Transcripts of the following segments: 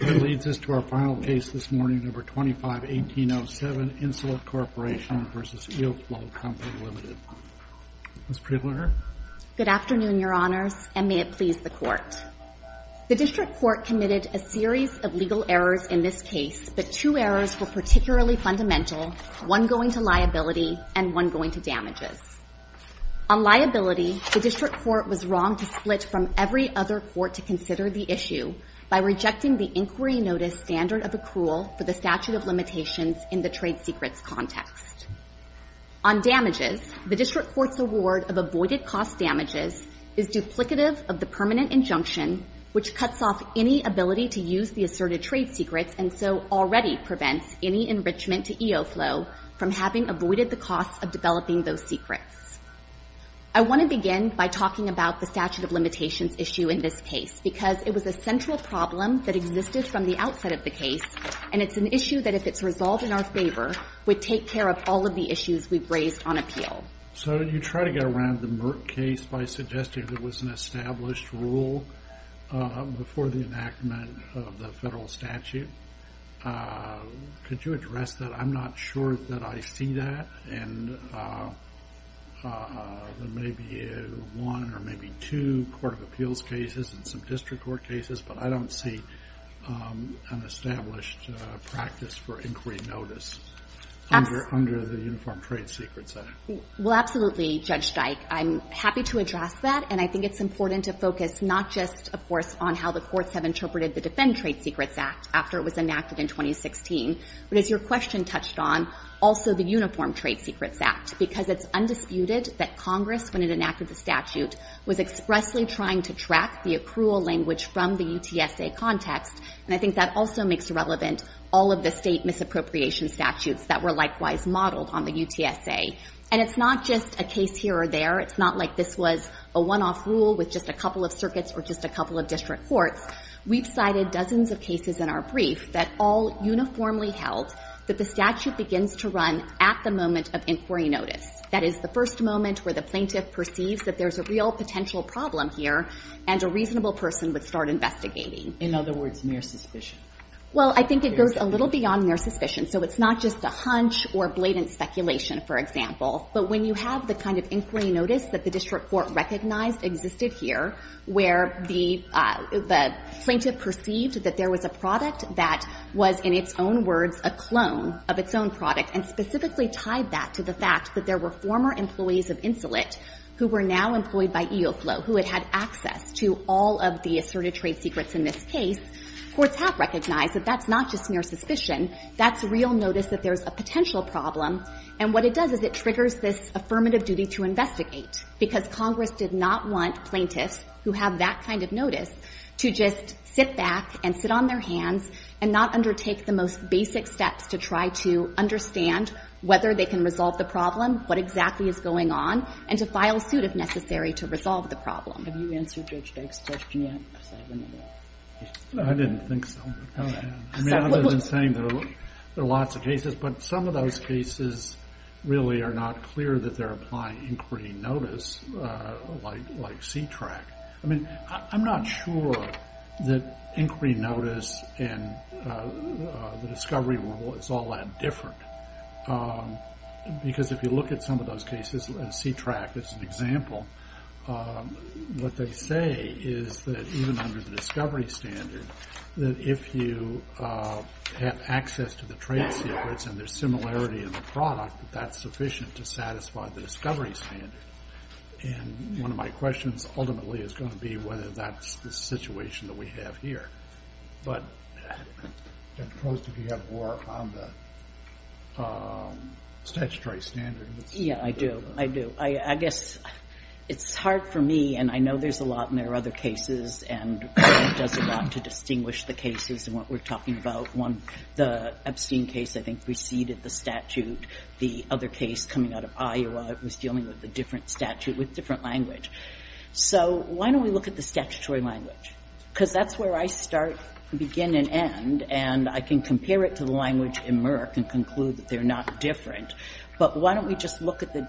Ms. Priebliner? Good afternoon, Your Honors, and may it please the Court. The District Court committed a series of legal errors in this case, but two errors were particularly fundamental, one going to liability and one going to damages. On liability, the District Court was wrong to split from every other court to consider the issue by rejecting the inquiry notice standard of accrual for the statute of limitations in the trade secrets context. On damages, the District Court's award of avoided cost damages is duplicative of the permanent injunction, which cuts off any ability to use the asserted trade secrets and so already prevents any enrichment to EOFlow from having avoided the cost of developing those secrets. I want to begin by talking about the statute of limitations issue in this case, because it was a central problem that existed from the outset of the case, and it's an issue that, if it's resolved in our favor, would take care of all of the issues we've raised on appeal. So you try to get around the Merck case by suggesting there was an established rule before the enactment of the federal statute. Could you address that? I'm not sure that I see that, and there may be one or maybe two Court of Appeals cases and some District Court cases, but I don't see an established practice for inquiry notice under the Uniform Trade Secrets Act. Well, absolutely, Judge Dyke. I'm happy to address that, and I think it's important to focus not just, of course, on how the courts have interpreted the Defend Trade Secrets Act after it was enacted in 2016, but as your question touched on, also the Uniform Trade Secrets Act, because it's undisputed that Congress, when it enacted the statute, was expressly trying to track the accrual language from the UTSA context, and I think that also makes relevant all of the State misappropriation statutes that were likewise modeled on the UTSA. And it's not just a case here or there. It's not like this was a one-off rule with just a couple of circuits or just a couple of District Courts. We've cited dozens of cases in our brief that all uniformly held that the statute begins to run at the moment of inquiry notice. That is, the first moment where the plaintiff perceives that there's a real potential problem here, and a reasonable person would start investigating. In other words, near suspicion. Well, I think it goes a little beyond near suspicion. So it's not just a hunch or blatant speculation, for example. But when you have the kind of inquiry notice that the District Court recognized existed here, where the plaintiff perceived that there was a product that was in its own words a clone of its own product, and specifically tied that to the fact that there were former employees of Insulet who were now employed by EOFLOW, who had had access to all of the asserted trade secrets in this case, courts have recognized that that's not just near suspicion. That's real notice that there's a potential problem. And what it does is it triggers this affirmative duty to investigate, because Congress did not want plaintiffs who have that kind of notice to just sit back and sit on their hands and not undertake the most basic steps to try to understand whether they can resolve the problem, what exactly is going on, and to file suit if necessary to resolve the problem. Have you answered Judge Dyke's question yet? I didn't think so. I mean, I've been saying there are lots of cases, but some of those cases really are not clear that they're applying inquiry notice like C-TRAC. I mean, I'm not sure that inquiry notice and the discovery rule is all that different, because if you look at some of those cases, C-TRAC is an example, what they say is that even under the discovery standard, that if you have access to the trade secrets and there's similarity in the product, that's sufficient to satisfy the discovery standard. And one of my questions ultimately is going to be whether that's the situation that we have here. But Judge Post, do you have more on the statutory standard? Yeah, I do. I do. I guess it's hard for me, and I know there's a lot and there are other cases, and it does a lot to distinguish the cases and what we're talking about. One, the Epstein case, I think, preceded the statute. The other case coming out of Iowa was dealing with a different statute with different language. So why don't we look at the statutory language? Because that's where I start, begin, and end, and I can compare it to the language in Merck and conclude that they're not different. But why don't we just look at the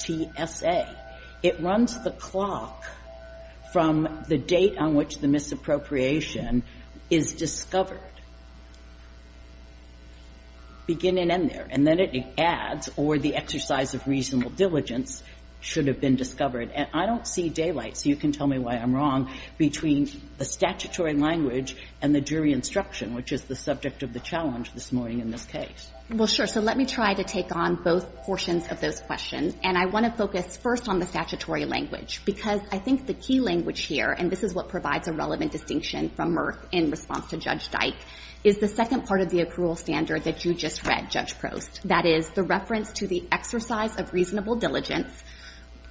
DTSA? It runs the clock from the date on which the misappropriation is discovered. Begin and end there. And then it adds, or the exercise of reasonable diligence should have been discovered. And I don't see daylight, so you can tell me why I'm wrong, between the statutory language and the jury instruction, which is the subject of the challenge this morning in this case. Well, sure. So let me try to take on both portions of those questions. And I want to focus first on the statutory language, because I think the key language here, and this is what provides a relevant distinction from Merck in response to Judge Dyke, is the second part of the accrual standard that you just read, Judge Post. That is the reference to the exercise of reasonable diligence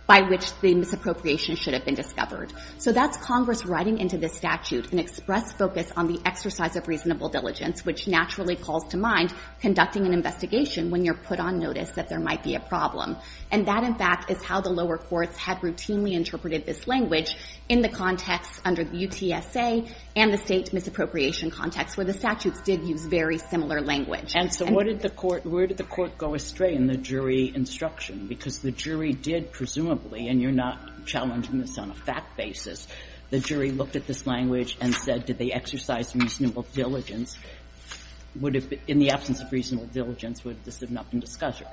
by which the misappropriation should have been discovered. So that's Congress writing into the statute an express focus on the exercise of reasonable diligence, which naturally calls to mind conducting an investigation when you're put on notice that there might be a problem. And that, in fact, is how the lower courts had routinely interpreted this language in the context under the UTSA and the state misappropriation context, where the statutes did use very similar language. And so what did the court – where did the court go astray in the jury instruction? Because the jury did, presumably, and you're not challenging this on a fact basis, the jury looked at this language and said, did they exercise reasonable diligence? Would it be – in the absence of reasonable diligence, would this have not been discussed?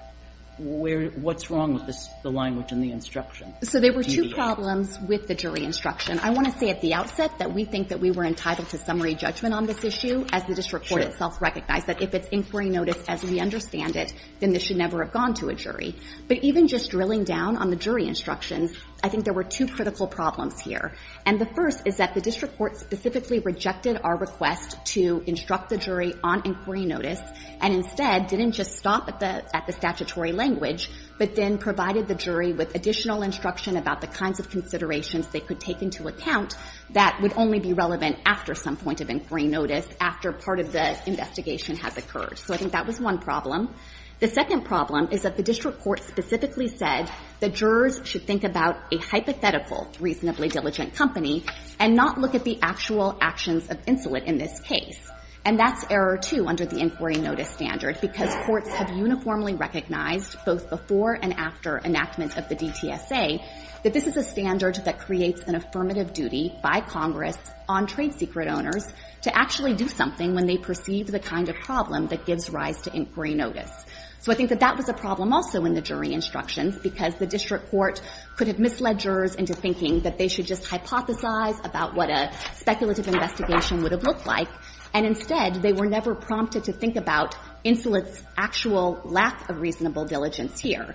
Where – what's wrong with the language in the instruction? So there were two problems with the jury instruction. I want to say at the outset that we think that we were entitled to summary judgment on this issue, as the district court itself recognized, that if it's inquiry notice as we understand it, then this should never have gone to a jury. But even just drilling down on the jury instructions, I think there were two critical problems here. And the first is that the district court specifically rejected our request to instruct the jury on inquiry notice, and instead didn't just stop at the statutory language, but then provided the jury with additional instruction about the kinds of considerations they could take into account that would only be relevant after some point of inquiry notice, after part of the investigation has occurred. So I think that was one problem. The second problem is that the district court specifically said that jurors should think about a hypothetical reasonably diligent company and not look at the actual actions of insolent in this case. And that's error two under the inquiry notice standard, because courts have uniformly recognized both before and after enactment of the DTSA that this is a standard that creates an affirmative duty by Congress on trade secret owners to actually do something when they perceive the kind of problem that gives rise to inquiry notice. So I think that that was a problem also in the jury instructions, because the district court could have misled jurors into thinking that they should just hypothesize about what a speculative investigation would have looked like, and instead, they were never prompted to think about Insolent's actual lack of reasonable diligence here.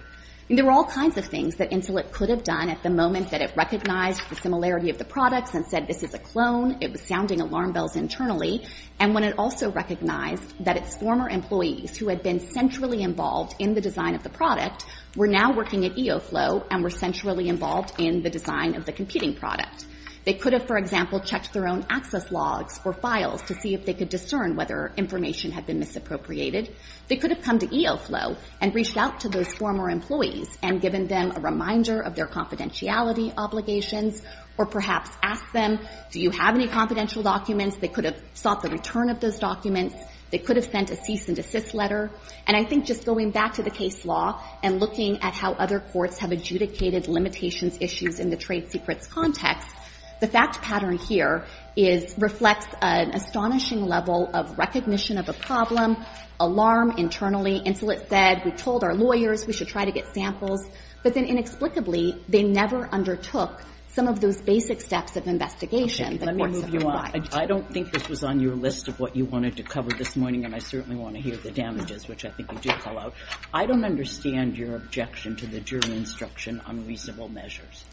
There were all kinds of things that Insolent could have done at the moment that recognized the similarity of the products and said this is a clone, it was sounding alarm bells internally, and when it also recognized that its former employees who had been centrally involved in the design of the product were now working at EOFLOW and were centrally involved in the design of the competing product. They could have, for example, checked their own access logs or files to see if they could discern whether information had been misappropriated. They could have come to EOFLOW and reached out to those former employees and given them a reminder of their confidentiality obligations, or perhaps asked them, do you have any confidential documents? They could have sought the return of those documents. They could have sent a cease and desist letter. And I think just going back to the case law and looking at how other courts have adjudicated limitations issues in the trade secrets context, the fact pattern here reflects an astonishing level of recognition of a problem, alarm internally. Insolent said we told our lawyers we should try to get samples. But then inexplicably, they never undertook some of those basic steps of investigation that courts have provided. I don't think this was on your list of what you wanted to cover this morning, and I certainly want to hear the damages, which I think you did call out. I don't understand your objection to the jury instruction on reasonable measures.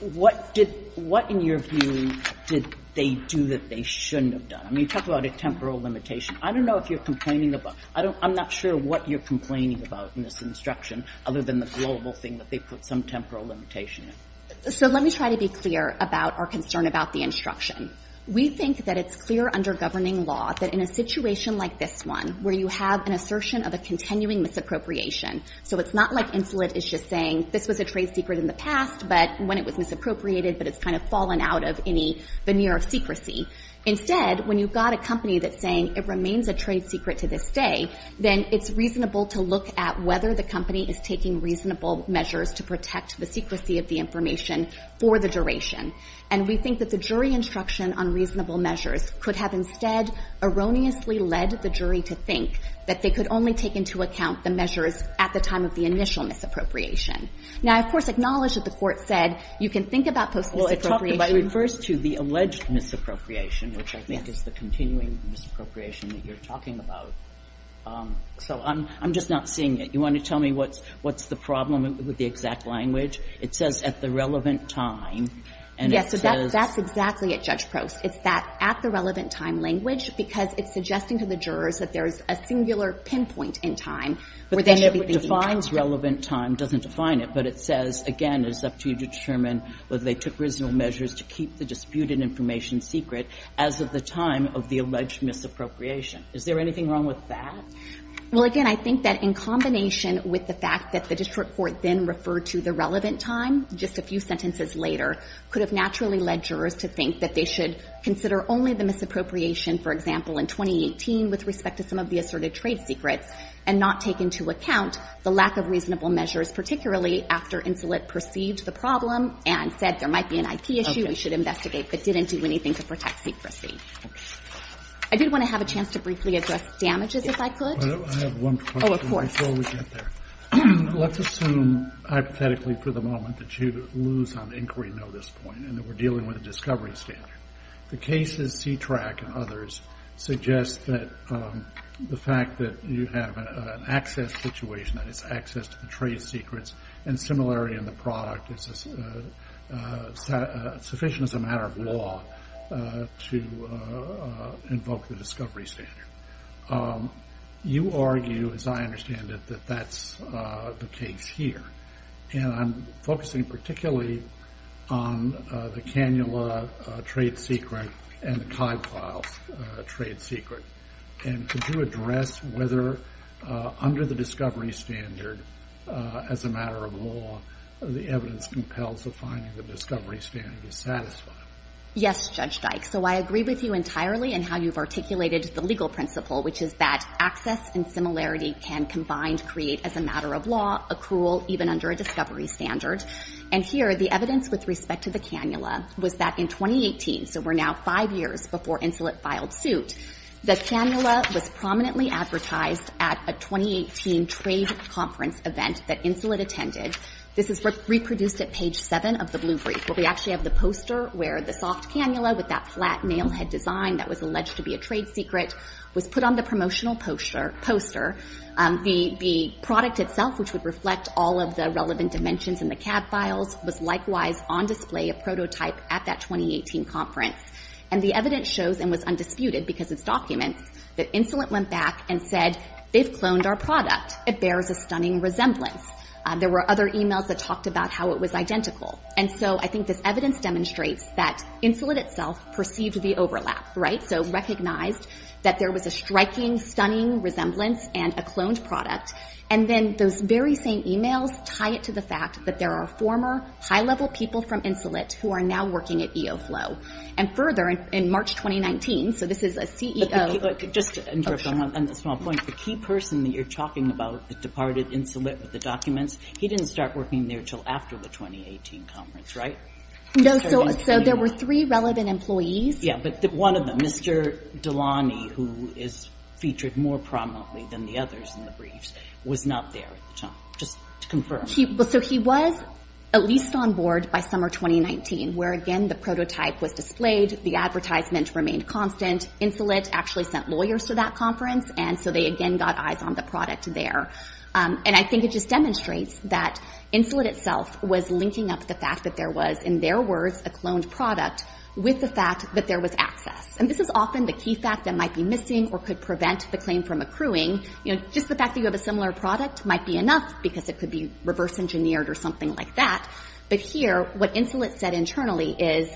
What did – what, in your view, did they do that they shouldn't have done? I mean, you talk about a temporal limitation. I don't know if you're complaining about – I don't – I'm not sure what you're complaining about in this instruction other than the global thing that they put some temporal limitation in. So let me try to be clear about our concern about the instruction. We think that it's clear under governing law that in a situation like this one where you have an assertion of a continuing misappropriation, so it's not like Insolent is just saying this was a trade secret in the past, but when it was misappropriated, but it's kind of fallen out of any veneer of secrecy. Instead, when you've got a company that's saying it remains a trade secret to this day, then it's reasonable to look at whether the company is taking reasonable measures to protect the secrecy of the information for the duration. And we think that the jury instruction on reasonable measures could have instead erroneously led the jury to think that they could only take into account the measures at the time of the initial misappropriation. Now, I, of course, acknowledge that the Court said you can think about post-misappropriation. Kagan. But it refers to the alleged misappropriation, which I think is the continuing misappropriation that you're talking about. So I'm just not seeing it. You want to tell me what's the problem with the exact language? It says, at the relevant time, and it says that. Yes. That's exactly it, Judge Prost. It's that at the relevant time language because it's suggesting to the jurors that there's a singular pinpoint in time where But then it defines relevant time, doesn't define it, but it says, again, it's up to you to determine whether they took reasonable measures to keep the disputed information secret as of the time of the alleged misappropriation. Is there anything wrong with that? Well, again, I think that in combination with the fact that the district court then referred to the relevant time, just a few sentences later, could have naturally led jurors to think that they should consider only the misappropriation, for example, in 2018 with respect to some of the asserted trade secrets, and not take into account the lack of reasonable measures, particularly after Insolite perceived the problem and said there might be an IP issue we should investigate, but didn't do anything to protect secrecy. Okay. I did want to have a chance to briefly address damages, if I could. I have one question. Oh, of course. Before we get there. Let's assume hypothetically for the moment that you lose on inquiry notice point and that we're dealing with a discovery standard. The cases C-TRAC and others suggest that the fact that you have an access situation, that is to the trade secrets, and similarity in the product is sufficient as a matter of law to invoke the discovery standard. You argue, as I understand it, that that's the case here. And I'm focusing particularly on the Canula trade secret and the discovery standard. Yes, Judge Dyke. So I agree with you entirely in how you've articulated the legal principle, which is that access and similarity can combined create as a matter of law accrual even under a discovery standard. And here, the evidence with respect to the Canula was that in 2018, so we're now five years before Insolite filed suit, the Canula was prominently advertised at a 2018 trade conference event that Insolite attended. This is reproduced at page 7 of the Blue Brief, where we actually have the poster where the soft Canula with that flat nail head design that was alleged to be a trade secret was put on the promotional poster. The product itself, which would reflect all of the relevant dimensions in the CAD files, was likewise on display, a prototype, at that 2018 conference. And the evidence shows and was documented that Insolite went back and said, they've cloned our product. It bears a stunning resemblance. There were other emails that talked about how it was identical. And so I think this evidence demonstrates that Insolite itself perceived the overlap, right? So recognized that there was a striking, stunning resemblance and a cloned product. And then those very same emails tie it to the fact that there are former high-level people from Insolite who are now working at CEOflow. And further, in March 2019, so this is a CEO... Just to interrupt on a small point, the key person that you're talking about that departed Insolite with the documents, he didn't start working there until after the 2018 conference, right? No, so there were three relevant employees. Yeah, but one of them, Mr. Delaney, who is featured more prominently than the others in the briefs, was not there at the time. Just to confirm. So he was at least on board by summer 2019, where again, the prototype was displayed, the advertisement remained constant, Insolite actually sent lawyers to that conference, and so they again got eyes on the product there. And I think it just demonstrates that Insolite itself was linking up the fact that there was, in their words, a cloned product with the fact that there was access. And this is often the key fact that might be missing or could prevent the claim from accruing. Just the fact that you have a similar product might be enough, because it could be reverse engineered or something like that. But here, what Insolite said internally is,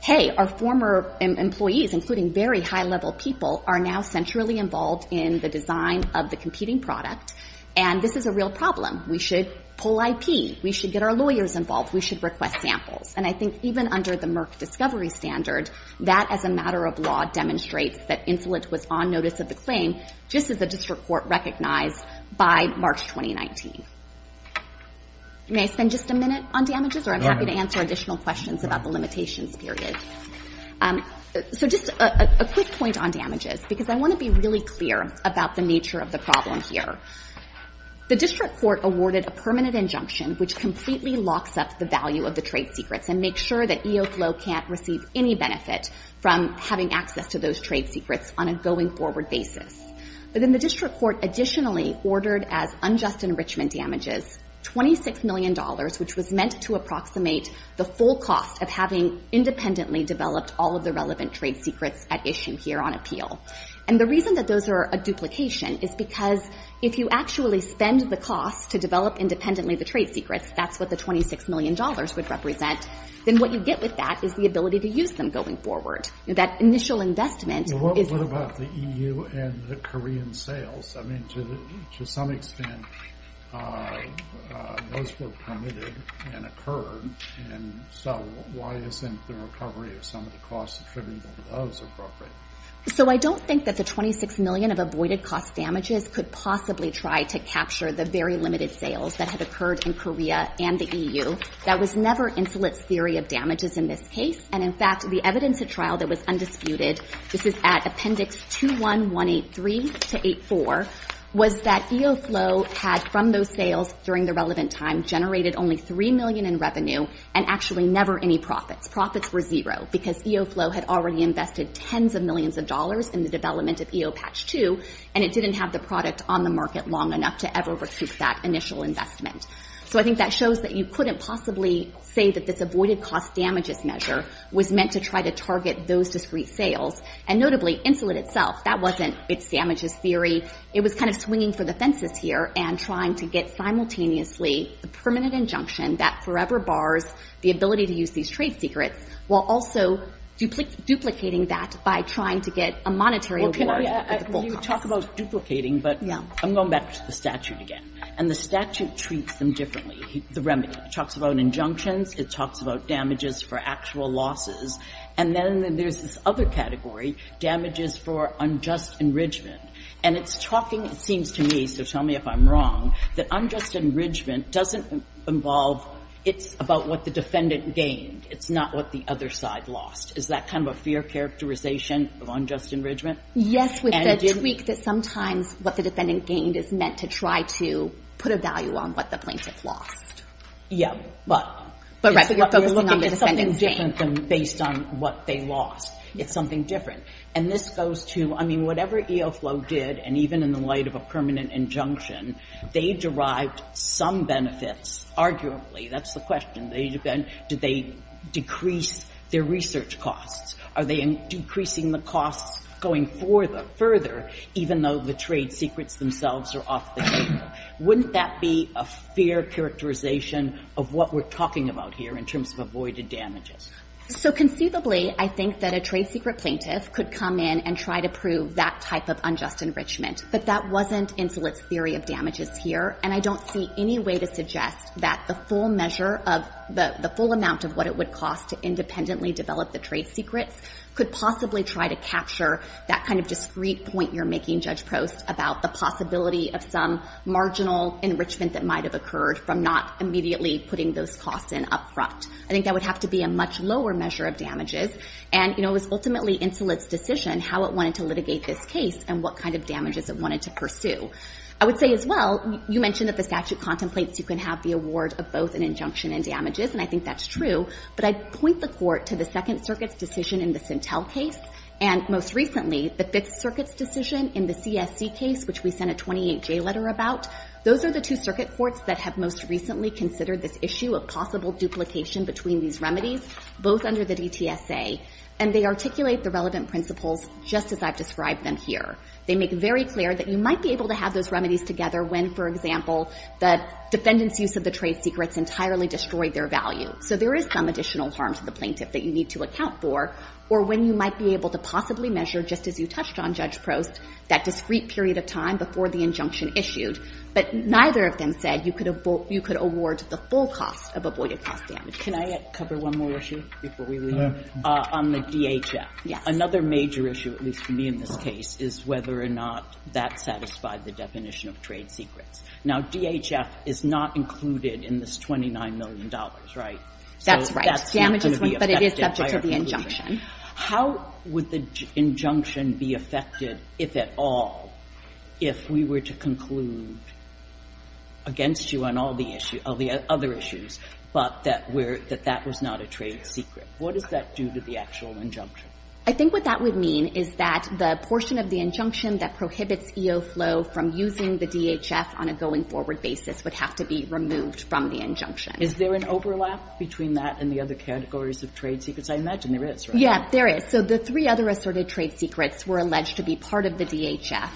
hey, our former employees, including very high-level people, are now centrally involved in the design of the competing product, and this is a real problem. We should pull IP. We should get our lawyers involved. We should request samples. And I think even under the Merck discovery standard, that as a matter of law demonstrates that Insolite was on notice of the claim, just as the District Court recognized by March 2019. May I spend just a minute on damages, or I'm happy to answer additional questions about the limitations period. So just a quick point on damages, because I want to be really clear about the nature of the problem here. The District Court awarded a permanent injunction which completely locks up the value of the trade secrets and makes sure that EOFLO can't receive any benefit from having access to those trade secrets on a going-forward basis. But in the District Court additionally ordered as unjust enrichment damages $26 million, which was meant to approximate the full cost of having independently developed all of the relevant trade secrets at issue here on appeal. And the reason that those are a duplication is because if you actually spend the cost to develop independently the trade secrets, that's what the $26 million would represent. Then what you get with that is the ability to use them going forward. That initial investment is — I mean, to some extent, those were permitted and occurred. And so why isn't the recovery of some of the costs attributed to those appropriate? So I don't think that the $26 million of avoided cost damages could possibly try to capture the very limited sales that had occurred in Korea and the EU. That was never Insulet's theory of damages in this case. And in fact, the evidence at trial that was undisputed — this is at Appendix 21183-84 — was that EOFLOW had, from those sales during the relevant time, generated only $3 million in revenue and actually never any profits. Profits were zero because EOFLOW had already invested tens of millions of dollars in the development of EO Patch 2, and it didn't have the product on the market long enough to ever recoup that initial investment. So I think that shows that you couldn't possibly say that this avoided cost damages measure was meant to try to target those discrete sales. And notably, Insulet itself, that wasn't its damages theory. It was kind of swinging for the fences here and trying to get simultaneously the permanent injunction that forever bars the ability to use these trade secrets, while also duplicating that by trying to get a monetary reward at the full cost. Well, can I — you talk about duplicating, but I'm going back to the statute again. And the statute treats them differently, the remedy. It talks about injunctions. It talks about damages for actual losses. And then there's this other category, damages for unjust enrichment. And it's talking, it seems to me, so tell me if I'm wrong, that unjust enrichment doesn't involve — it's about what the defendant gained. It's not what the other side lost. Is that kind of a fair characterization of unjust enrichment? Yes, with the tweak that sometimes what the defendant gained is meant to try to put a value on what the plaintiff lost. Yeah, but it's something different than based on what they lost. It's something different. And this goes to — I mean, whatever EOFLOW did, and even in the light of a permanent injunction, they derived some benefits, arguably. That's the question. They — did they decrease their research costs? Are they decreasing the costs going further, even though the trade secrets themselves are off the table? Wouldn't that be a fair characterization of what we're talking about here in terms of avoided damages? So conceivably, I think that a trade secret plaintiff could come in and try to prove that type of unjust enrichment. But that wasn't Insolite's theory of damages here. And I don't see any way to suggest that the full measure of — the full amount of what it would cost to independently develop the trade secrets could possibly try to capture that kind of discrete point you're making, Judge Prost, about the possibility of some marginal enrichment that might have occurred from not immediately putting those costs in up front. I think that would have to be a much lower measure of damages. And, you know, it was ultimately Insolite's decision how it wanted to litigate this case and what kind of damages it wanted to pursue. I would say as well, you mentioned that the statute contemplates you can have the award of both an injunction and damages, and I think that's true. But I'd point the Court to the Second Circuit's decision in the Sintel case and, most recently, the Fifth Circuit's decision in the CSC case, which we sent a 28-J letter about. Those are the two circuit courts that have most recently considered this issue of possible duplication between these remedies, both under the DTSA. And they articulate the relevant principles just as I've described them here. They make very clear that you might be able to have those remedies together when, for example, the defendant's use of the trade secrets entirely destroyed their value. So there is some additional harm to the plaintiff that you need to account for, or when you might be able to possibly measure, just as you touched on, Judge Prost, that discrete period of time before the injunction issued. But neither of them said you could award the full cost of avoided cost damages. Can I cover one more issue before we leave? No. On the DHF. Yes. Another major issue, at least for me in this case, is whether or not that satisfied the definition of trade secrets. Now, DHF is not included in this $29 million, right? That's right. So that's not going to be affected by our conclusion. But it is subject to the injunction. How would the injunction be affected, if at all, if we were to conclude against you on all the other issues, but that that was not a trade secret? What does that do to the actual injunction? I think what that would mean is that the portion of the injunction that prohibits EO flow from using the DHF on a going-forward basis would have to be removed from the injunction. Is there an overlap between that and the other categories of trade secrets? I imagine there is, right? Yes, there is. So the three other asserted trade secrets were alleged to be part of the DHF.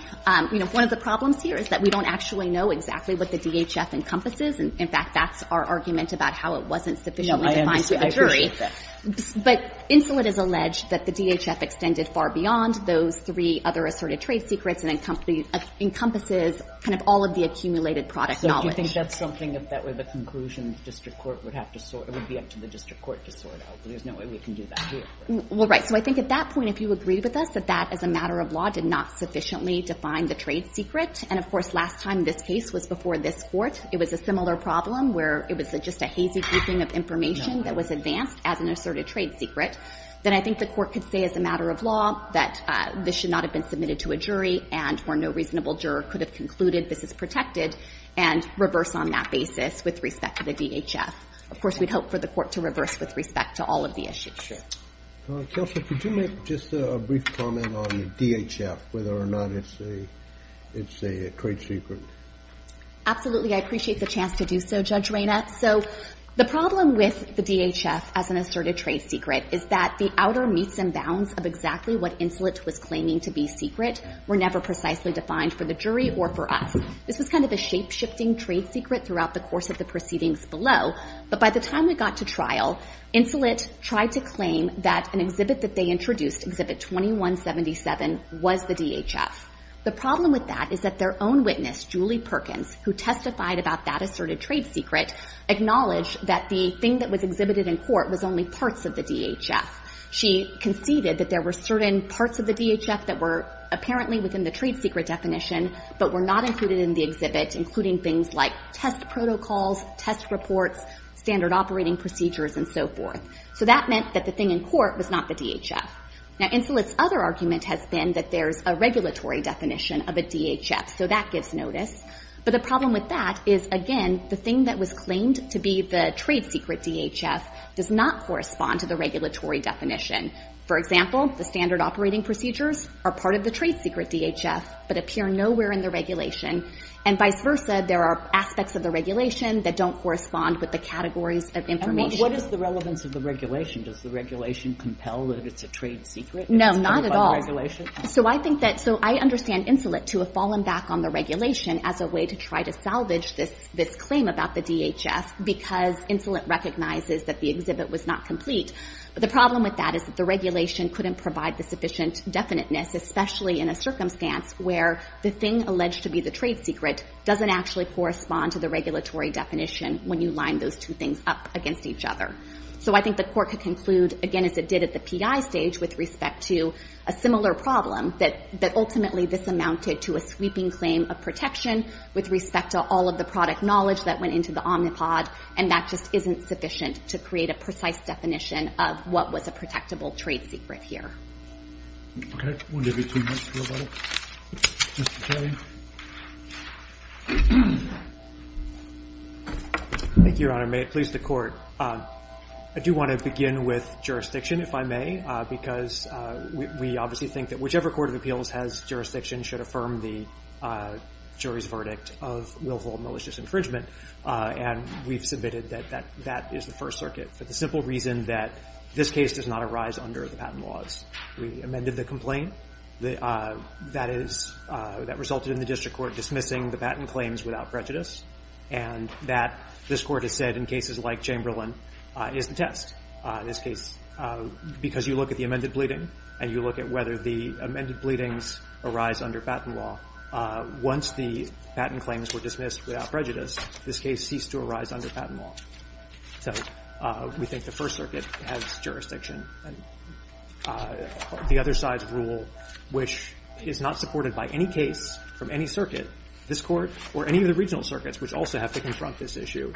You know, one of the problems here is that we don't actually know exactly what the DHF encompasses. In fact, that's our argument about how it wasn't sufficiently defined through the jury. No, I understand. I appreciate that. But Insolite has alleged that the DHF extended far beyond those three other asserted trade secrets and encompasses kind of all of the accumulated product knowledge. I think that's something, if that were the conclusion, the district court would have to sort. It would be up to the district court to sort out, but there's no way we can do that here. Well, right. So I think at that point, if you agree with us that that, as a matter of law, did not sufficiently define the trade secret, and, of course, last time this case was before this Court, it was a similar problem where it was just a hazy creeping of information that was advanced as an asserted trade secret, then I think the Court could say, as a matter of law, that this should not have been submitted to a jury and where no reasonable juror could have concluded this is protected and reverse on that basis with respect to the DHF. Of course, we'd hope for the Court to reverse with respect to all of the issues. Counsel, could you make just a brief comment on the DHF, whether or not it's a trade secret? Absolutely. I appreciate the chance to do so, Judge Reyna. So the problem with the DHF as an asserted trade secret is that the outer meets and bounds of exactly what was never precisely defined for the jury or for us. This was kind of a shape-shifting trade secret throughout the course of the proceedings below, but by the time we got to trial, Insolite tried to claim that an exhibit that they introduced, Exhibit 2177, was the DHF. The problem with that is that their own witness, Julie Perkins, who testified about that asserted trade secret, acknowledged that the thing that was exhibited in court was only parts of the DHF. She conceded that there were certain parts of the DHF that were apparently within the trade secret definition but were not included in the exhibit, including things like test protocols, test reports, standard operating procedures, and so forth. So that meant that the thing in court was not the DHF. Now, Insolite's other argument has been that there's a regulatory definition of a DHF, so that gives notice. But the problem with that is, again, the thing that was claimed to be the trade secret DHF does not correspond to the regulatory definition. For example, the standard operating procedures are part of the trade secret DHF but appear nowhere in the regulation. And vice versa, there are aspects of the regulation that don't correspond with the categories of information. And what is the relevance of the regulation? Does the regulation compel that it's a trade secret? No, not at all. So I think that so I understand Insolite to have fallen back on the regulation as a way to try to salvage this claim about the DHF because Insolite recognizes that the exhibit was not complete. But the problem with that is that the regulation couldn't provide the sufficient definiteness, especially in a circumstance where the thing alleged to be the trade secret doesn't actually correspond to the regulatory definition when you line those two things up against each other. So I think the court could conclude, again, as it did at the PI stage with respect to a similar problem, that ultimately this amounted to a sweeping claim of protection with respect to all of the product knowledge that went into the Omnipod, and that just isn't sufficient to create a precise definition of what was a protectable trade secret here. Okay. We'll give you two minutes to go about it. Mr. Kelly? Thank you, Your Honor. May it please the Court. I do want to begin with jurisdiction, if I may, because we obviously think that whichever court of appeals has jurisdiction should affirm the jury's verdict of willful malicious infringement, and we've submitted that that is the First Circuit for the simple reason that this case does not arise under the patent laws. We amended the complaint that resulted in the district court dismissing the patent claims without prejudice, and that, this Court has said, in cases like Chamberlain, is the test. In this case, because you look at the amended bleeding and you look at whether the amended bleedings arise under patent law, once the patent claims were dismissed without prejudice, this case ceased to arise under patent law. So we think the First Circuit has jurisdiction. The other side's rule, which is not supported by any case from any circuit, this Court or any of the regional circuits, which also have to confront this issue,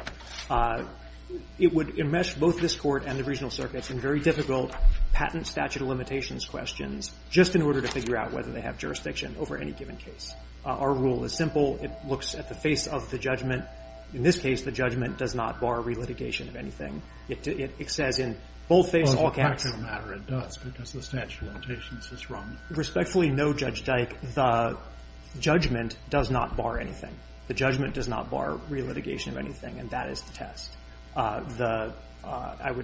it would enmesh both this Court and the regional circuits in very difficult patent statute of limitations questions just in order to figure out whether they have jurisdiction over any given case. Our rule is simple. It looks at the face of the judgment. In this case, the judgment does not bar relitigation of anything. It says in both cases, all cases. Breyer, it does, because the statute of limitations is run. Respectfully, no, Judge Dike. The judgment does not bar anything. The judgment does not bar relitigation of anything, and that is the test. The –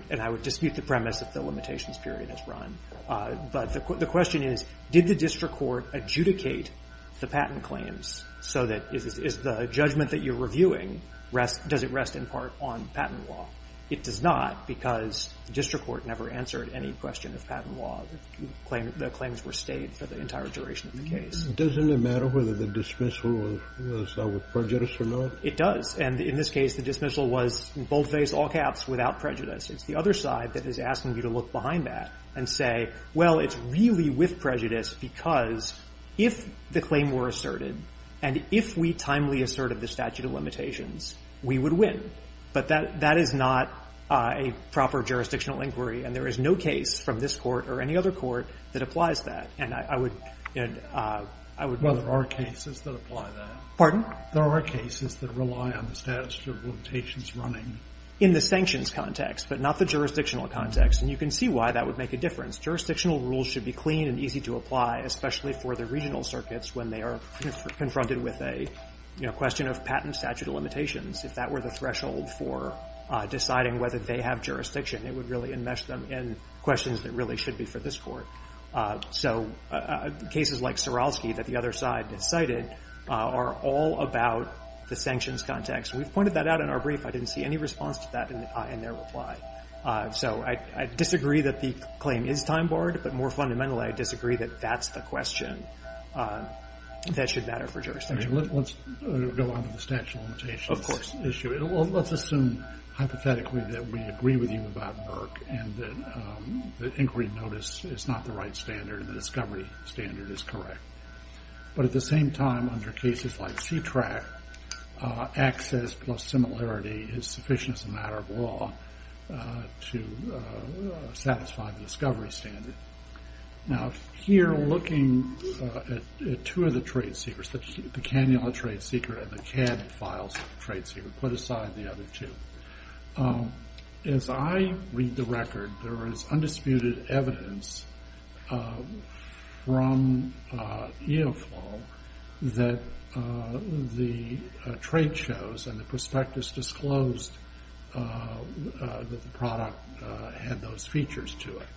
and I would dispute the premise that the limitations period is run. But the question is, did the district court adjudicate the patent claims so that is the judgment that you're reviewing rest – does it rest in part on patent law? It does not, because the district court never answered any question of patent law. The claims were stayed for the entire duration of the case. Doesn't it matter whether the dismissal was with prejudice or not? It does. And in this case, the dismissal was, in boldface, all caps, without prejudice. It's the other side that is asking you to look behind that and say, well, it's really with prejudice, because if the claim were asserted, and if we timely asserted the statute of limitations, we would win. But that is not a proper jurisdictional inquiry, and there is no case from this court or any other court that applies that. And I would – and I would – Well, there are cases that apply that. Pardon? There are cases that rely on the statute of limitations running. In the sanctions context, but not the jurisdictional context. And you can see why that would make a difference. Jurisdictional rules should be clean and easy to apply, especially for the regional circuits when they are confronted with a, you know, question of patent statute of limitations. If that were the threshold for deciding whether they have jurisdiction, it would really enmesh them in questions that really should be for this court. So cases like Suralski that the other side cited are all about the sanctions context. We've pointed that out in our brief. I didn't see any response to that in their reply. So I disagree that the claim is time-borne, but more fundamentally, I disagree that that's the question that should matter for jurisdiction. Let's go on to the statute of limitations issue. Let's assume hypothetically that we agree with you about Burke and that inquiry notice is not the right standard and the discovery standard is correct. But at the same time, under cases like C-TRAC, access plus similarity is sufficient as a matter of law to satisfy the discovery standard. Now, here looking at two of the trade secrets, the cannula trade secret and the cad files trade secret, put aside the other two. As I read the record, there is undisputed evidence from EOFL that the trade shows and the prospectus disclosed that the product had those features to it.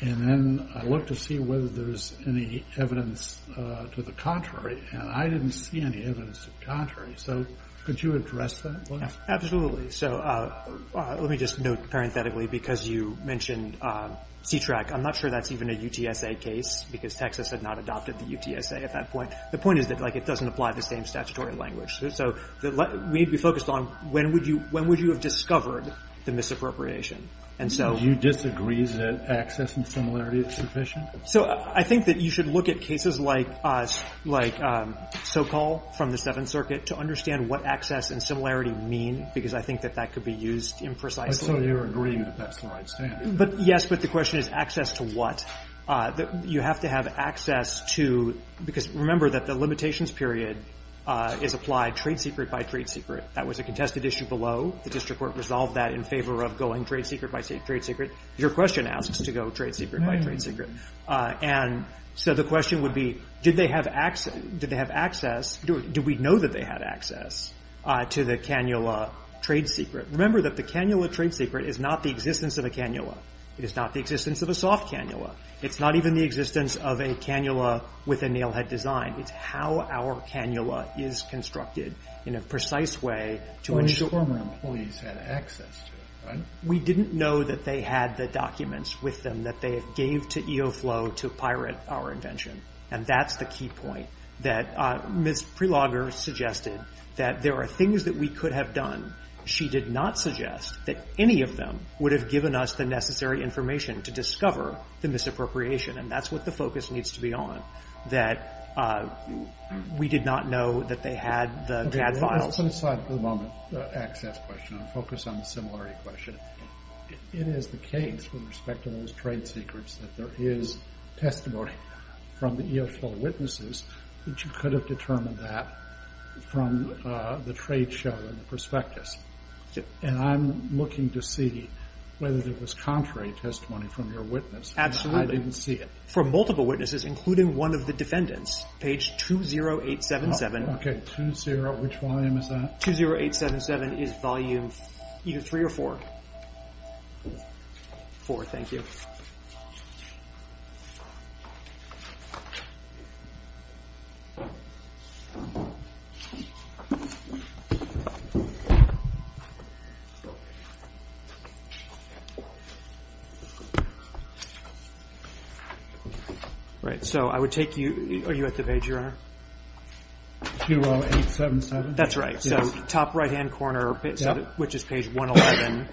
And then I look to see whether there's any evidence to the contrary, and I didn't see any evidence to the contrary. So could you address that, please? Absolutely. So let me just note parenthetically, because you mentioned C-TRAC, I'm not sure that's even a UTSA case, because Texas had not adopted the UTSA at that point. The point is that, like, it doesn't apply to the same statutory language. So we'd be focused on when would you have discovered the misappropriation. And so you disagree that access and similarity is sufficient? So I think that you should look at cases like us, like Sokol from the Seventh Amendment. I don't know if that's what you mean, because I think that that could be used imprecisely. But so you're agreeing that that's the right stand? Yes, but the question is access to what? You have to have access to – because remember that the limitations period is applied trade secret by trade secret. That was a contested issue below. The district court resolved that in favor of going trade secret by trade secret. Your question asks to go trade secret by trade secret. And so the question would be, did they have access – do we know that they had access to the cannula trade secret? Remember that the cannula trade secret is not the existence of a cannula. It is not the existence of a soft cannula. It's not even the existence of a cannula with a nailhead design. It's how our cannula is constructed in a precise way to ensure – Only former employees had access to it, right? We didn't know that they had the documents with them that they gave to EOFLOW to pirate our invention. And that's the key point that Ms. Prelogger suggested, that there are things that we could have done. She did not suggest that any of them would have given us the necessary information to discover the misappropriation, and that's what the focus needs to be on, that we did not know that they had the CAD files. Let's put aside for the moment the access question and focus on the similarity question. It is the case with respect to those trade secrets that there is testimony from the EOFLOW witnesses that you could have determined that from the trade show and the prospectus. And I'm looking to see whether there was contrary testimony from your witness. Absolutely. I didn't see it. From multiple witnesses, including one of the defendants, page 20877. Okay, 20, which volume is that? 20877 is volume either three or four. Four, thank you. All right, so I would take you, are you at the page, Your Honor? 20877. That's right. So top right-hand corner, which is page 111,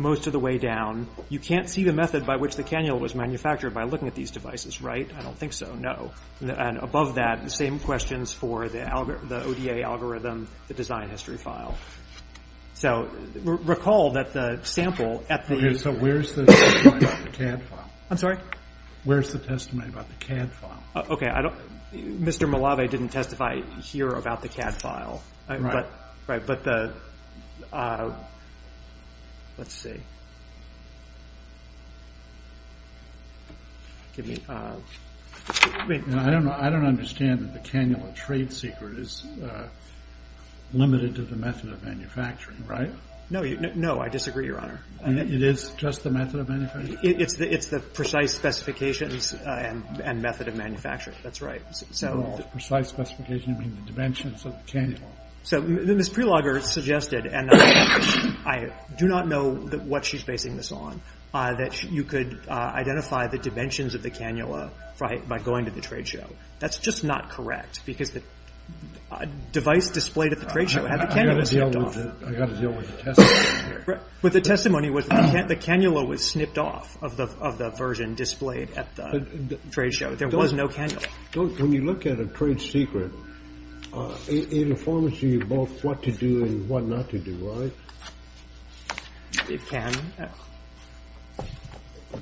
most of the way down. You can't see the method by which the cannula was manufactured by looking at these devices, right? I don't think so. No. And above that, the same questions for the ODA algorithm, the design history file. So recall that the sample at the end. So where's the testimony about the CAD file? I'm sorry? Where's the testimony about the CAD file? Okay, Mr. Malave didn't testify here about the CAD file. Right, but the, let's see. I don't understand that the cannula trade secret is limited to the method of manufacturing, right? No, I disagree, Your Honor. It is just the method of manufacturing? It's the precise specifications and method of manufacturing. That's right. The precise specification of the dimensions of the cannula. So Ms. Prelogger suggested, and I do not know what she's basing this on, that you could identify the dimensions of the cannula by going to the trade show. That's just not correct, because the device displayed at the trade show had the cannula snipped off. I've got to deal with the testimony here. But the testimony was the cannula was snipped off of the version displayed at the trade show. There was no cannula. When you look at a trade secret, it informs you both what to do and what not to do, right? It can.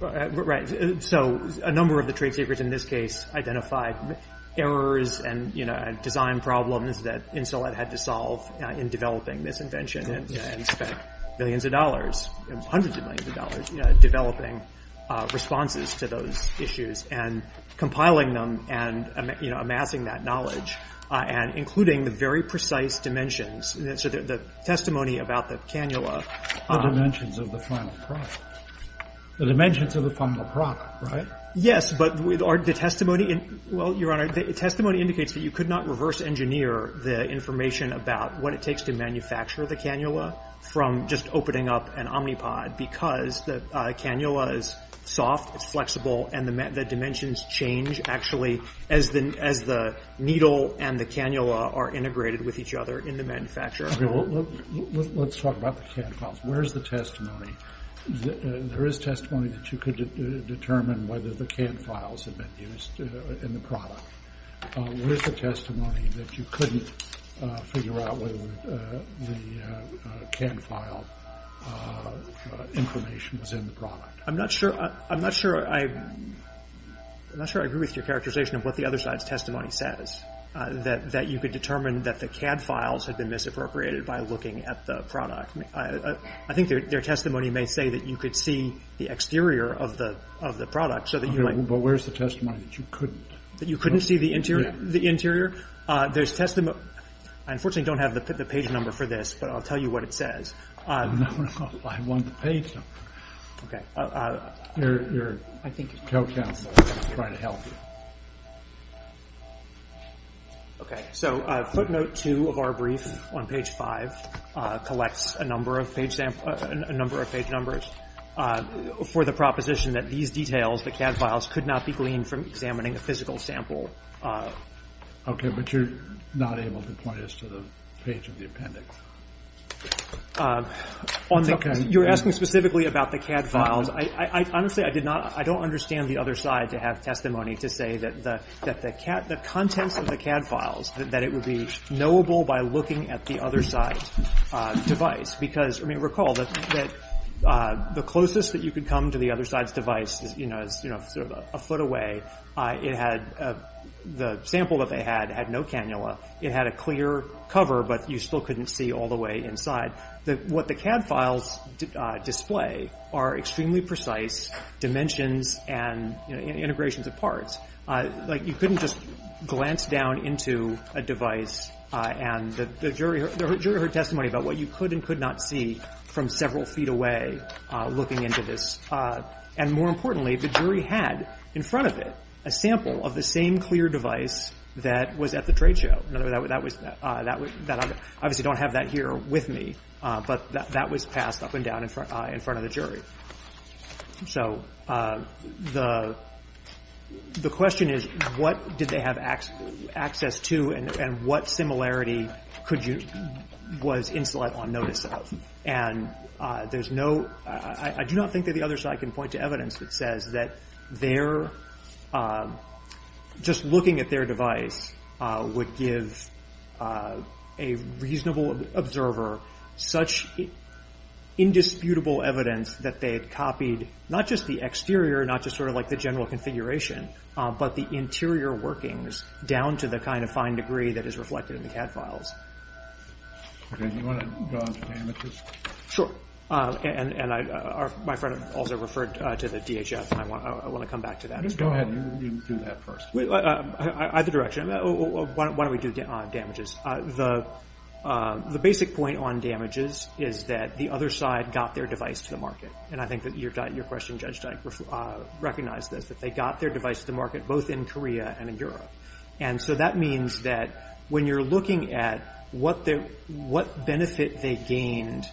Right. So a number of the trade secrets in this case identified errors and, you know, design problems that Insolite had to solve in developing this invention and spent millions of dollars, hundreds of millions of dollars, developing responses to those issues and compiling them and, you know, amassing that knowledge and including the very precise dimensions. So the testimony about the cannula. The dimensions of the final product. The dimensions of the final product, right? Yes, but the testimony, well, Your Honor, the testimony indicates that you could not reverse engineer the information about what it takes to manufacture the cannula from just opening up an Omnipod because the cannula is soft, it's flexible, and the dimensions change actually as the needle and the cannula are integrated with each other in the manufacturer. Let's talk about the cannula. Where is the testimony? There is testimony that you could determine whether the cannula files had been used in the product. Where is the testimony that you couldn't figure out whether the CAD file information was in the product? I'm not sure I agree with your characterization of what the other side's testimony says, that you could determine that the CAD files had been misappropriated by looking at the product. I think their testimony may say that you could see the exterior of the product so that you might But where's the testimony that you couldn't? That you couldn't see the interior? I unfortunately don't have the page number for this, but I'll tell you what it says. No, I want the page number. Okay. Okay, so footnote 2 of our brief on page 5 collects a number of page numbers for the proposition that these details, the CAD files, could not be gleaned from examining a physical sample. Okay, but you're not able to point us to the page of the appendix. You're asking specifically about the CAD files. Honestly, I don't understand the other side to have testimony to say that the contents of the CAD files, that it would be knowable by looking at the other side's device. Because, I mean, recall that the closest that you could come to the other side's device is sort of a foot away. The sample that they had had no cannula. It had a clear cover, but you still couldn't see all the way inside. What the CAD files display are extremely precise dimensions and integrations of parts. Like, you couldn't just glance down into a device and the jury heard testimony about what you could and could not see from several feet away looking into this. And more importantly, the jury had in front of it a sample of the same clear device that was at the trade show. Obviously, I don't have that here with me, but that was passed up and down in front of the jury. So the question is, what did they have access to and what similarity was Insulet on notice of? And I do not think that the other side can point to evidence that says that just looking at their device would give a reasonable observer such indisputable evidence that they had copied not just the exterior, not just sort of like the general configuration, but the interior workings down to the kind of fine degree that is reflected in the CAD files. Okay, do you want to go on to damages? Sure. And my friend also referred to the DHS, and I want to come back to that. Go ahead. You do that first. Either direction. Why don't we do damages? The basic point on damages is that the other side got their device to the market. And I think that your question, Judge, recognized this, that they got their device to market both in Korea and in Europe. And so that means that when you're looking at what benefit they gained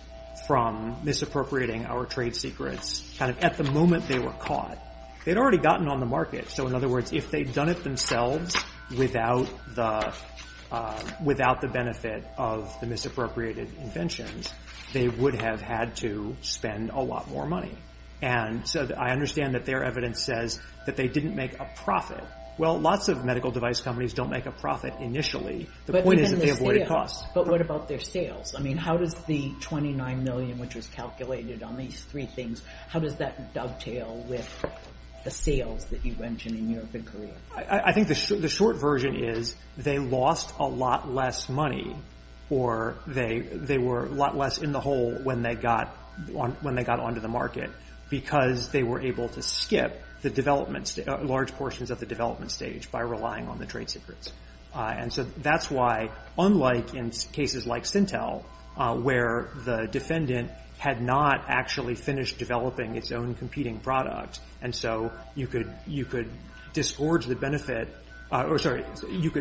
from misappropriating our trade secrets kind of at the moment they were caught, they'd already gotten on the market. So in other words, if they'd done it themselves without the benefit of the misappropriated inventions, they would have had to spend a lot more money. And so I understand that their evidence says that they didn't make a profit. Well, lots of medical device companies don't make a profit initially. But what about their sales? I mean, how does the $29 million which was calculated on these three things, how does that dovetail with the sales that you mentioned in Europe and Korea? I think the short version is they lost a lot less money, or they were a lot less in the hole when they got on to the market, because they were able to skip the developments, large portions of the development stage by relying on the trade secrets. And so that's why, unlike in cases like Stintel, where the defendant had not actually finished developing its own competing product, and so you could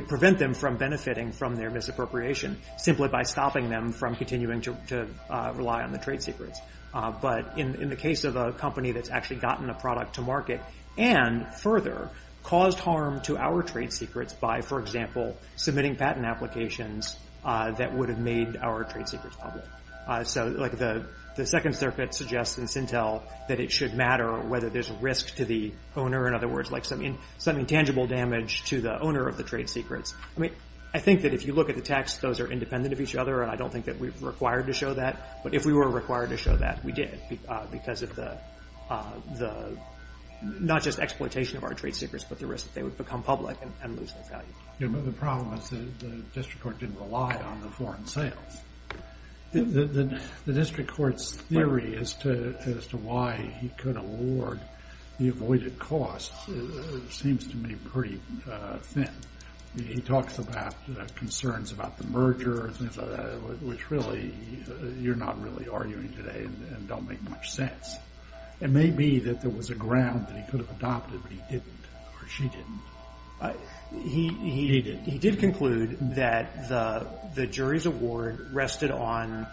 prevent them from benefiting from their misappropriation simply by stopping them from continuing to rely on the trade secrets. But in the case of a company that's actually gotten a product to market and further caused harm to our trade secrets by, for example, submitting patent applications that would have made our trade secrets public. So the Second Circuit suggests in Stintel that it should matter whether there's a risk to the owner, in other words, something tangible damage to the owner of the trade secrets. I mean, I think that if you look at the text, those are independent of each other, and I don't think that we're required to show that. But if we were required to show that, we did, because of the not just exploitation of our trade secrets, but the risk that they would become public and lose their value. The problem is the district court didn't rely on the foreign sales. The district court's theory as to why he could award the avoided costs seems to me pretty thin. He talks about concerns about the merger, which really you're not really arguing today and don't make much sense. It may be that there was a ground that he could have adopted, but he didn't or she didn't. He did conclude that the jury's award rested on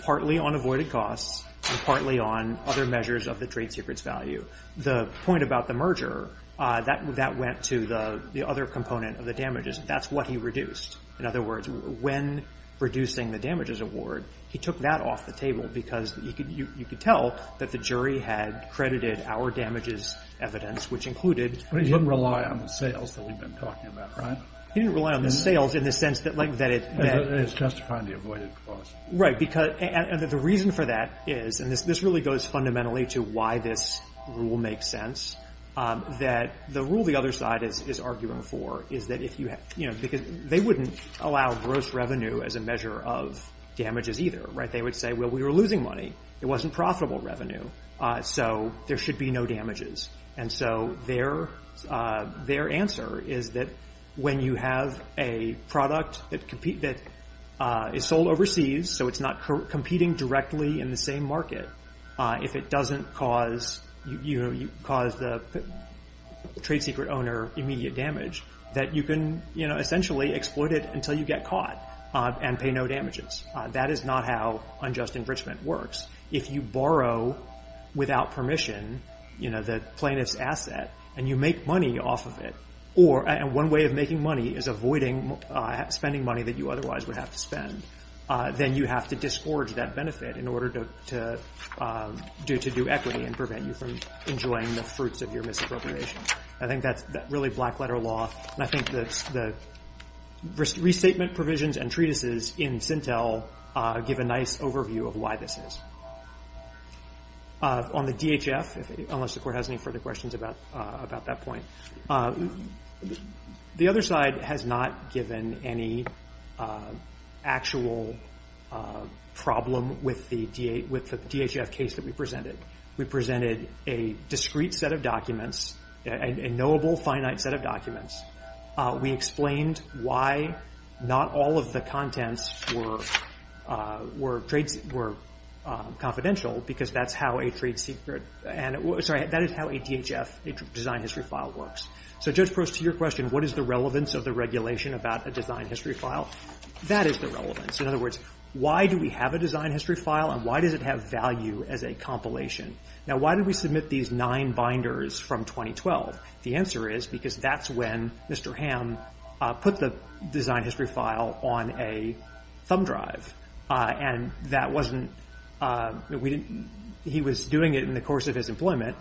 partly on avoided costs and partly on other measures of the trade secrets value. The point about the merger, that went to the other component of the damages. That's what he reduced. In other words, when reducing the damages award, he took that off the table, because you could tell that the jury had credited our damages evidence, which included But he didn't rely on the sales that we've been talking about, right? He didn't rely on the sales in the sense that it It's justifying the avoided costs. Right, because the reason for that is, and this really goes fundamentally to why this rule makes sense, that the rule the other side is arguing for is that if you have, you know, because they wouldn't allow gross revenue as a measure of damages either. Right. They would say, well, we were losing money. It wasn't profitable revenue. So there should be no damages. And so their answer is that when you have a product that is sold overseas, so it's not competing directly in the same market, if it doesn't cause the trade secret owner immediate damage, that you can essentially exploit it until you get caught and pay no damages. That is not how unjust enrichment works. If you borrow without permission, you know, the plaintiff's asset and you make money off of it, or one way of making money is avoiding spending money that you otherwise would have to spend. Then you have to disgorge that benefit in order to do equity and prevent you from enjoying the fruits of your misappropriation. I think that's really black letter law. And I think the restatement provisions and treatises in Sintel give a nice overview of why this is. On the DHF, unless the Court has any further questions about that point, the other side has not given any actual problem with the DHF case that we presented. We presented a discrete set of documents, a knowable, finite set of documents. We explained why not all of the contents were confidential, because that's how a trade secret – sorry, that is how a DHF, a design history file, works. So Judge Prost, to your question, what is the relevance of the regulation about a design history file, that is the relevance. In other words, why do we have a design history file, and why does it have value as a compilation? Now, why did we submit these nine binders from 2012? The answer is because that's when Mr. Hamm put the design history file on a thumb drive. And that wasn't – he was doing it in the course of his employment.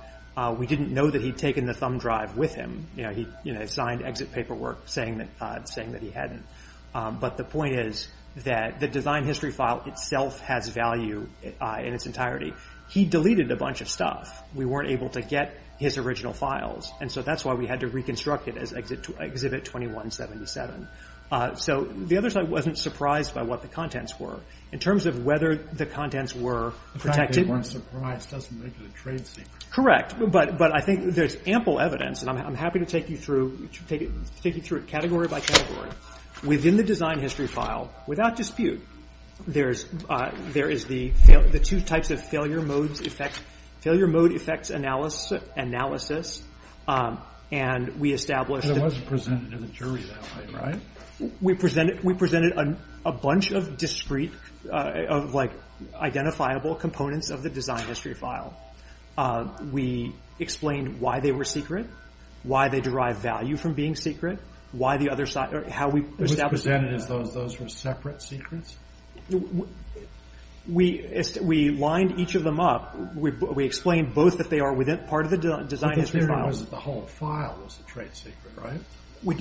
We didn't know that he'd taken the thumb drive with him. He signed exit paperwork saying that he hadn't. But the point is that the design history file itself has value in its entirety. He deleted a bunch of stuff. We weren't able to get his original files. And so that's why we had to reconstruct it as Exhibit 2177. So the other side wasn't surprised by what the contents were. In terms of whether the contents were protected – The fact they weren't surprised doesn't make it a trade secret. Correct. But I think there's ample evidence, and I'm happy to take you through it category by category. Within the design history file, without dispute, there is the two types of failure mode effects analysis. And we established – And it wasn't presented to the jury that way, right? We presented a bunch of discrete, identifiable components of the design history file. We explained why they were secret, why they derive value from being secret, how we established – It was presented as though those were separate secrets? We lined each of them up. We explained both that they are part of the design history file. But the theory was that the whole file was a trade secret, right?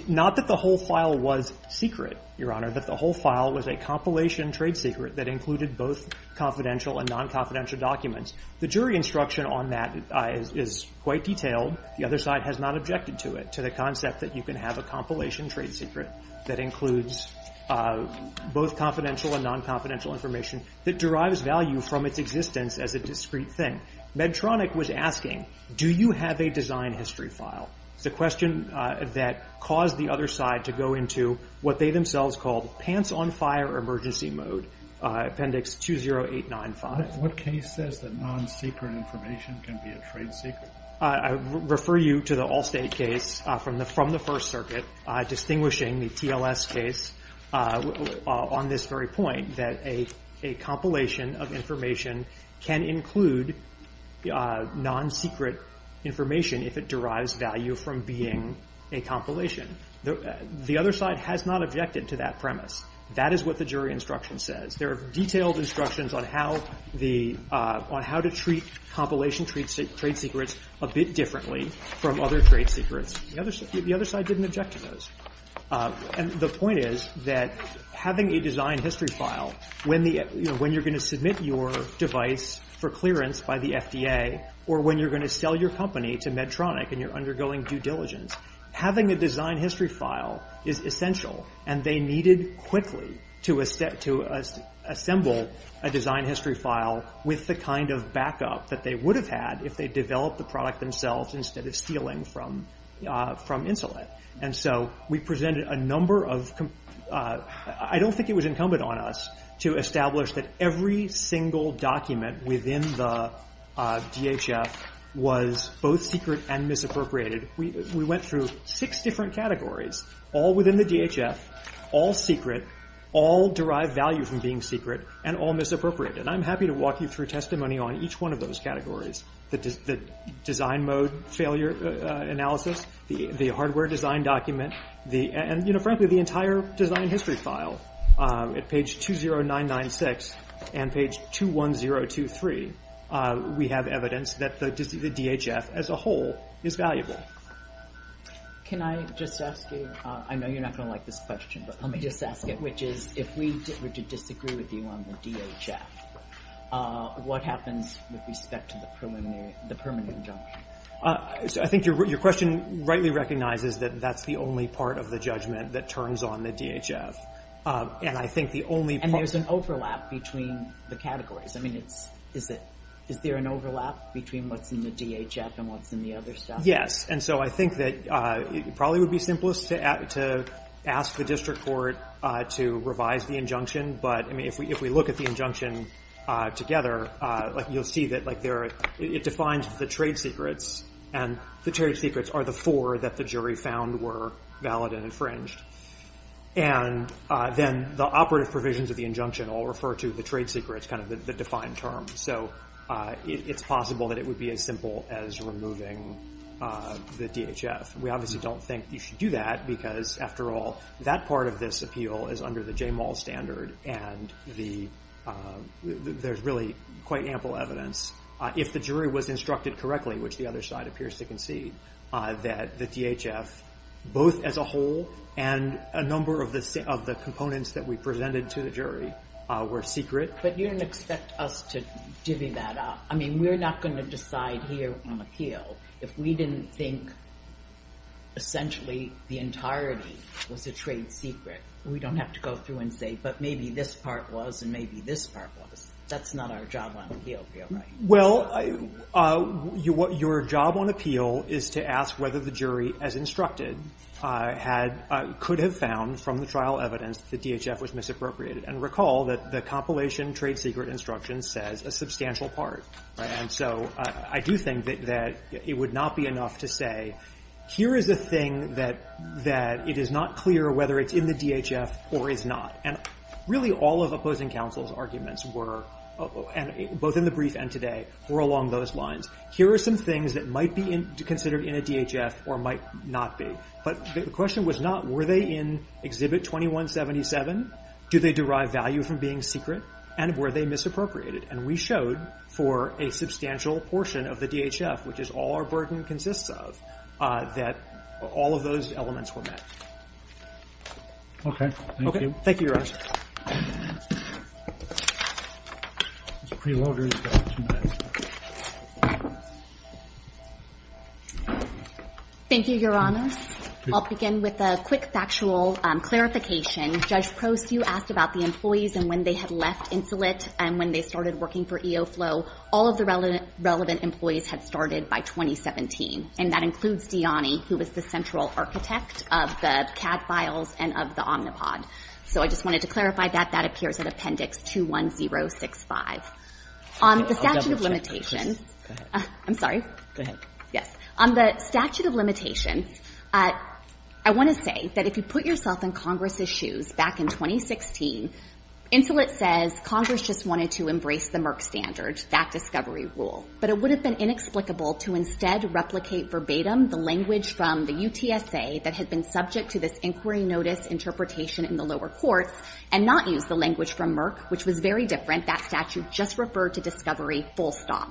Not that the whole file was secret, Your Honor. That the whole file was a compilation trade secret that included both confidential and non-confidential documents. The jury instruction on that is quite detailed. The other side has not objected to it, to the concept that you can have a compilation trade secret that includes both confidential and non-confidential information that derives value from its existence as a discrete thing. Medtronic was asking, do you have a design history file? It's a question that caused the other side to go into what they themselves called pants-on-fire emergency mode, appendix 20895. What case says that non-secret information can be a trade secret? I refer you to the Allstate case from the First Circuit, distinguishing the TLS case on this very point, that a compilation of information can include non-secret information if it derives value from being a compilation. The other side has not objected to that premise. That is what the jury instruction says. There are detailed instructions on how to treat compilation trade secrets a bit differently from other trade secrets. The other side didn't object to those. And the point is that having a design history file, when you're going to submit your device for clearance by the FDA or when you're going to sell your company to Medtronic and you're undergoing due diligence, having a design history file is essential and they needed quickly to assemble a design history file with the kind of backup that they would have had if they developed the product themselves instead of stealing from Insulet. And so we presented a number of—I don't think it was incumbent on us to establish that every single document within the DHF was both secret and misappropriated. We went through six different categories, all within the DHF, all secret, all derived value from being secret, and all misappropriated. And I'm happy to walk you through testimony on each one of those categories, the design mode failure analysis, the hardware design document, and frankly, the entire design history file. At page 20996 and page 21023, we have evidence that the DHF as a whole is valuable. Can I just ask you—I know you're not going to like this question, but let me just ask it, which is if we were to disagree with you on the DHF, what happens with respect to the permanent injunction? I think your question rightly recognizes that that's the only part of the judgment that turns on the DHF, and I think the only— And there's an overlap between the categories. I mean, is there an overlap between what's in the DHF and what's in the other stuff? Yes, and so I think that it probably would be simplest to ask the district court to revise the injunction, but if we look at the injunction together, you'll see that it defines the trade secrets, and the trade secrets are the four that the jury found were valid and infringed. And then the operative provisions of the injunction all refer to the trade secrets, kind of the defined term. So it's possible that it would be as simple as removing the DHF. We obviously don't think you should do that because, after all, that part of this appeal is under the J. Mall standard, and there's really quite ample evidence. If the jury was instructed correctly, which the other side appears to concede, that the DHF, both as a whole and a number of the components that we presented to the jury, were secret. But you don't expect us to divvy that up. I mean, we're not going to decide here on appeal if we didn't think essentially the entirety was a trade secret. We don't have to go through and say, but maybe this part was and maybe this part was. That's not our job on appeal, right? Well, your job on appeal is to ask whether the jury, as instructed, could have found from the trial evidence that the DHF was misappropriated. And recall that the compilation trade secret instruction says a substantial part. And so I do think that it would not be enough to say, here is a thing that it is not clear whether it's in the DHF or is not. And really all of opposing counsel's arguments were, both in the brief and today, were along those lines. Here are some things that might be considered in a DHF or might not be. But the question was not, were they in Exhibit 2177? Do they derive value from being secret? And were they misappropriated? And we showed for a substantial portion of the DHF, which is all our burden consists of, that all of those elements were met. Okay. Thank you. Thank you, Your Honors. Ms. Prelogar, you've got two minutes. Thank you, Your Honors. I'll begin with a quick factual clarification. Judge Prost, you asked about the employees and when they had left Insolite and when they started working for EOFLOW. All of the relevant employees had started by 2017, and that includes Diani, who was the central architect of the CAD files and of the Omnipod. So I just wanted to clarify that. That appears in Appendix 21065. On the statute of limitations. I'm sorry. Yes. Yes. On the statute of limitations, I want to say that if you put yourself in Congress's shoes back in 2016, Insolite says Congress just wanted to embrace the Merck standard, that discovery rule. But it would have been inexplicable to instead replicate verbatim the language from the UTSA that had been subject to this inquiry notice interpretation in the lower courts and not use the language from Merck, which was very different. That statute just referred to discovery full stop.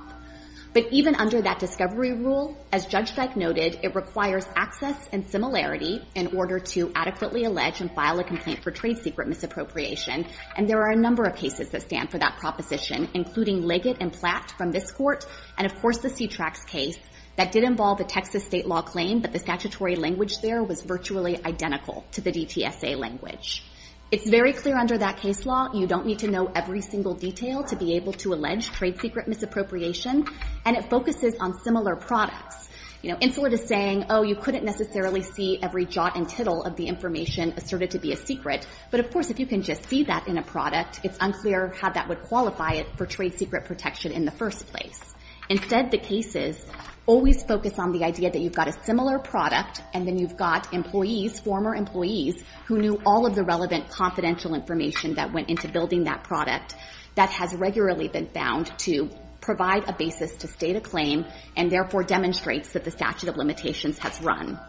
But even under that discovery rule, as Judge Dyke noted, it requires access and similarity in order to adequately allege and file a complaint for trade secret misappropriation. And there are a number of cases that stand for that proposition, including Leggett and Platt from this court and, of course, the C-TRAX case that did involve a Texas state law claim that the statutory language there was virtually identical to the DTSA language. It's very clear under that case law, you don't need to know every single detail to be able to allege trade secret misappropriation. And it focuses on similar products. You know, Insolite is saying, oh, you couldn't necessarily see every jot and tittle of the information asserted to be a secret. But, of course, if you can just see that in a product, it's unclear how that would qualify it for trade secret protection in the first place. Instead, the cases always focus on the idea that you've got a similar product and then you've got employees, former employees, who knew all of the relevant confidential information that went into building that product that has regularly been found to provide a basis to state a claim and, therefore, demonstrates that the statute of limitations has run.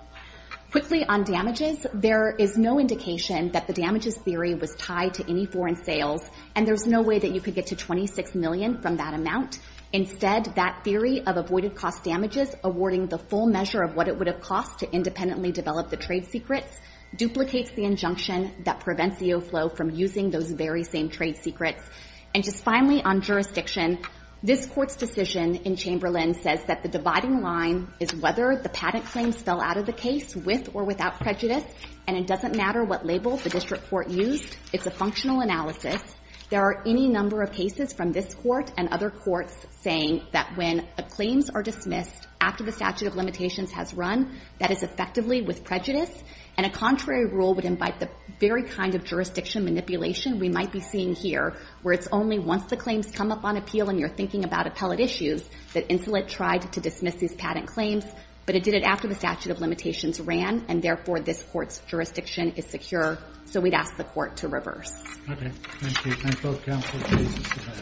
Quickly, on damages, there is no indication that the damages theory was tied to any foreign sales. And there's no way that you could get to $26 million from that amount. Instead, that theory of avoided cost damages, awarding the full measure of what it would have cost to independently develop the trade secrets, duplicates the injunction that prevents the overflow from using those very same trade secrets. And just finally, on jurisdiction, this Court's decision in Chamberlain says that the dividing line is whether the patent claims fell out of the case with or without prejudice, and it doesn't matter what label the district court used. It's a functional analysis. There are any number of cases from this Court and other courts saying that when claims are dismissed after the statute of limitations has run, that is effectively with prejudice. And a contrary rule would invite the very kind of jurisdiction manipulation we might be seeing here, where it's only once the claims come up on appeal and you're thinking about appellate issues that Insolite tried to dismiss these patent claims, but it did it after the statute of limitations ran, and, therefore, this Court's jurisdiction is secure. So we'd ask the Court to reverse. Thank you. Thank you.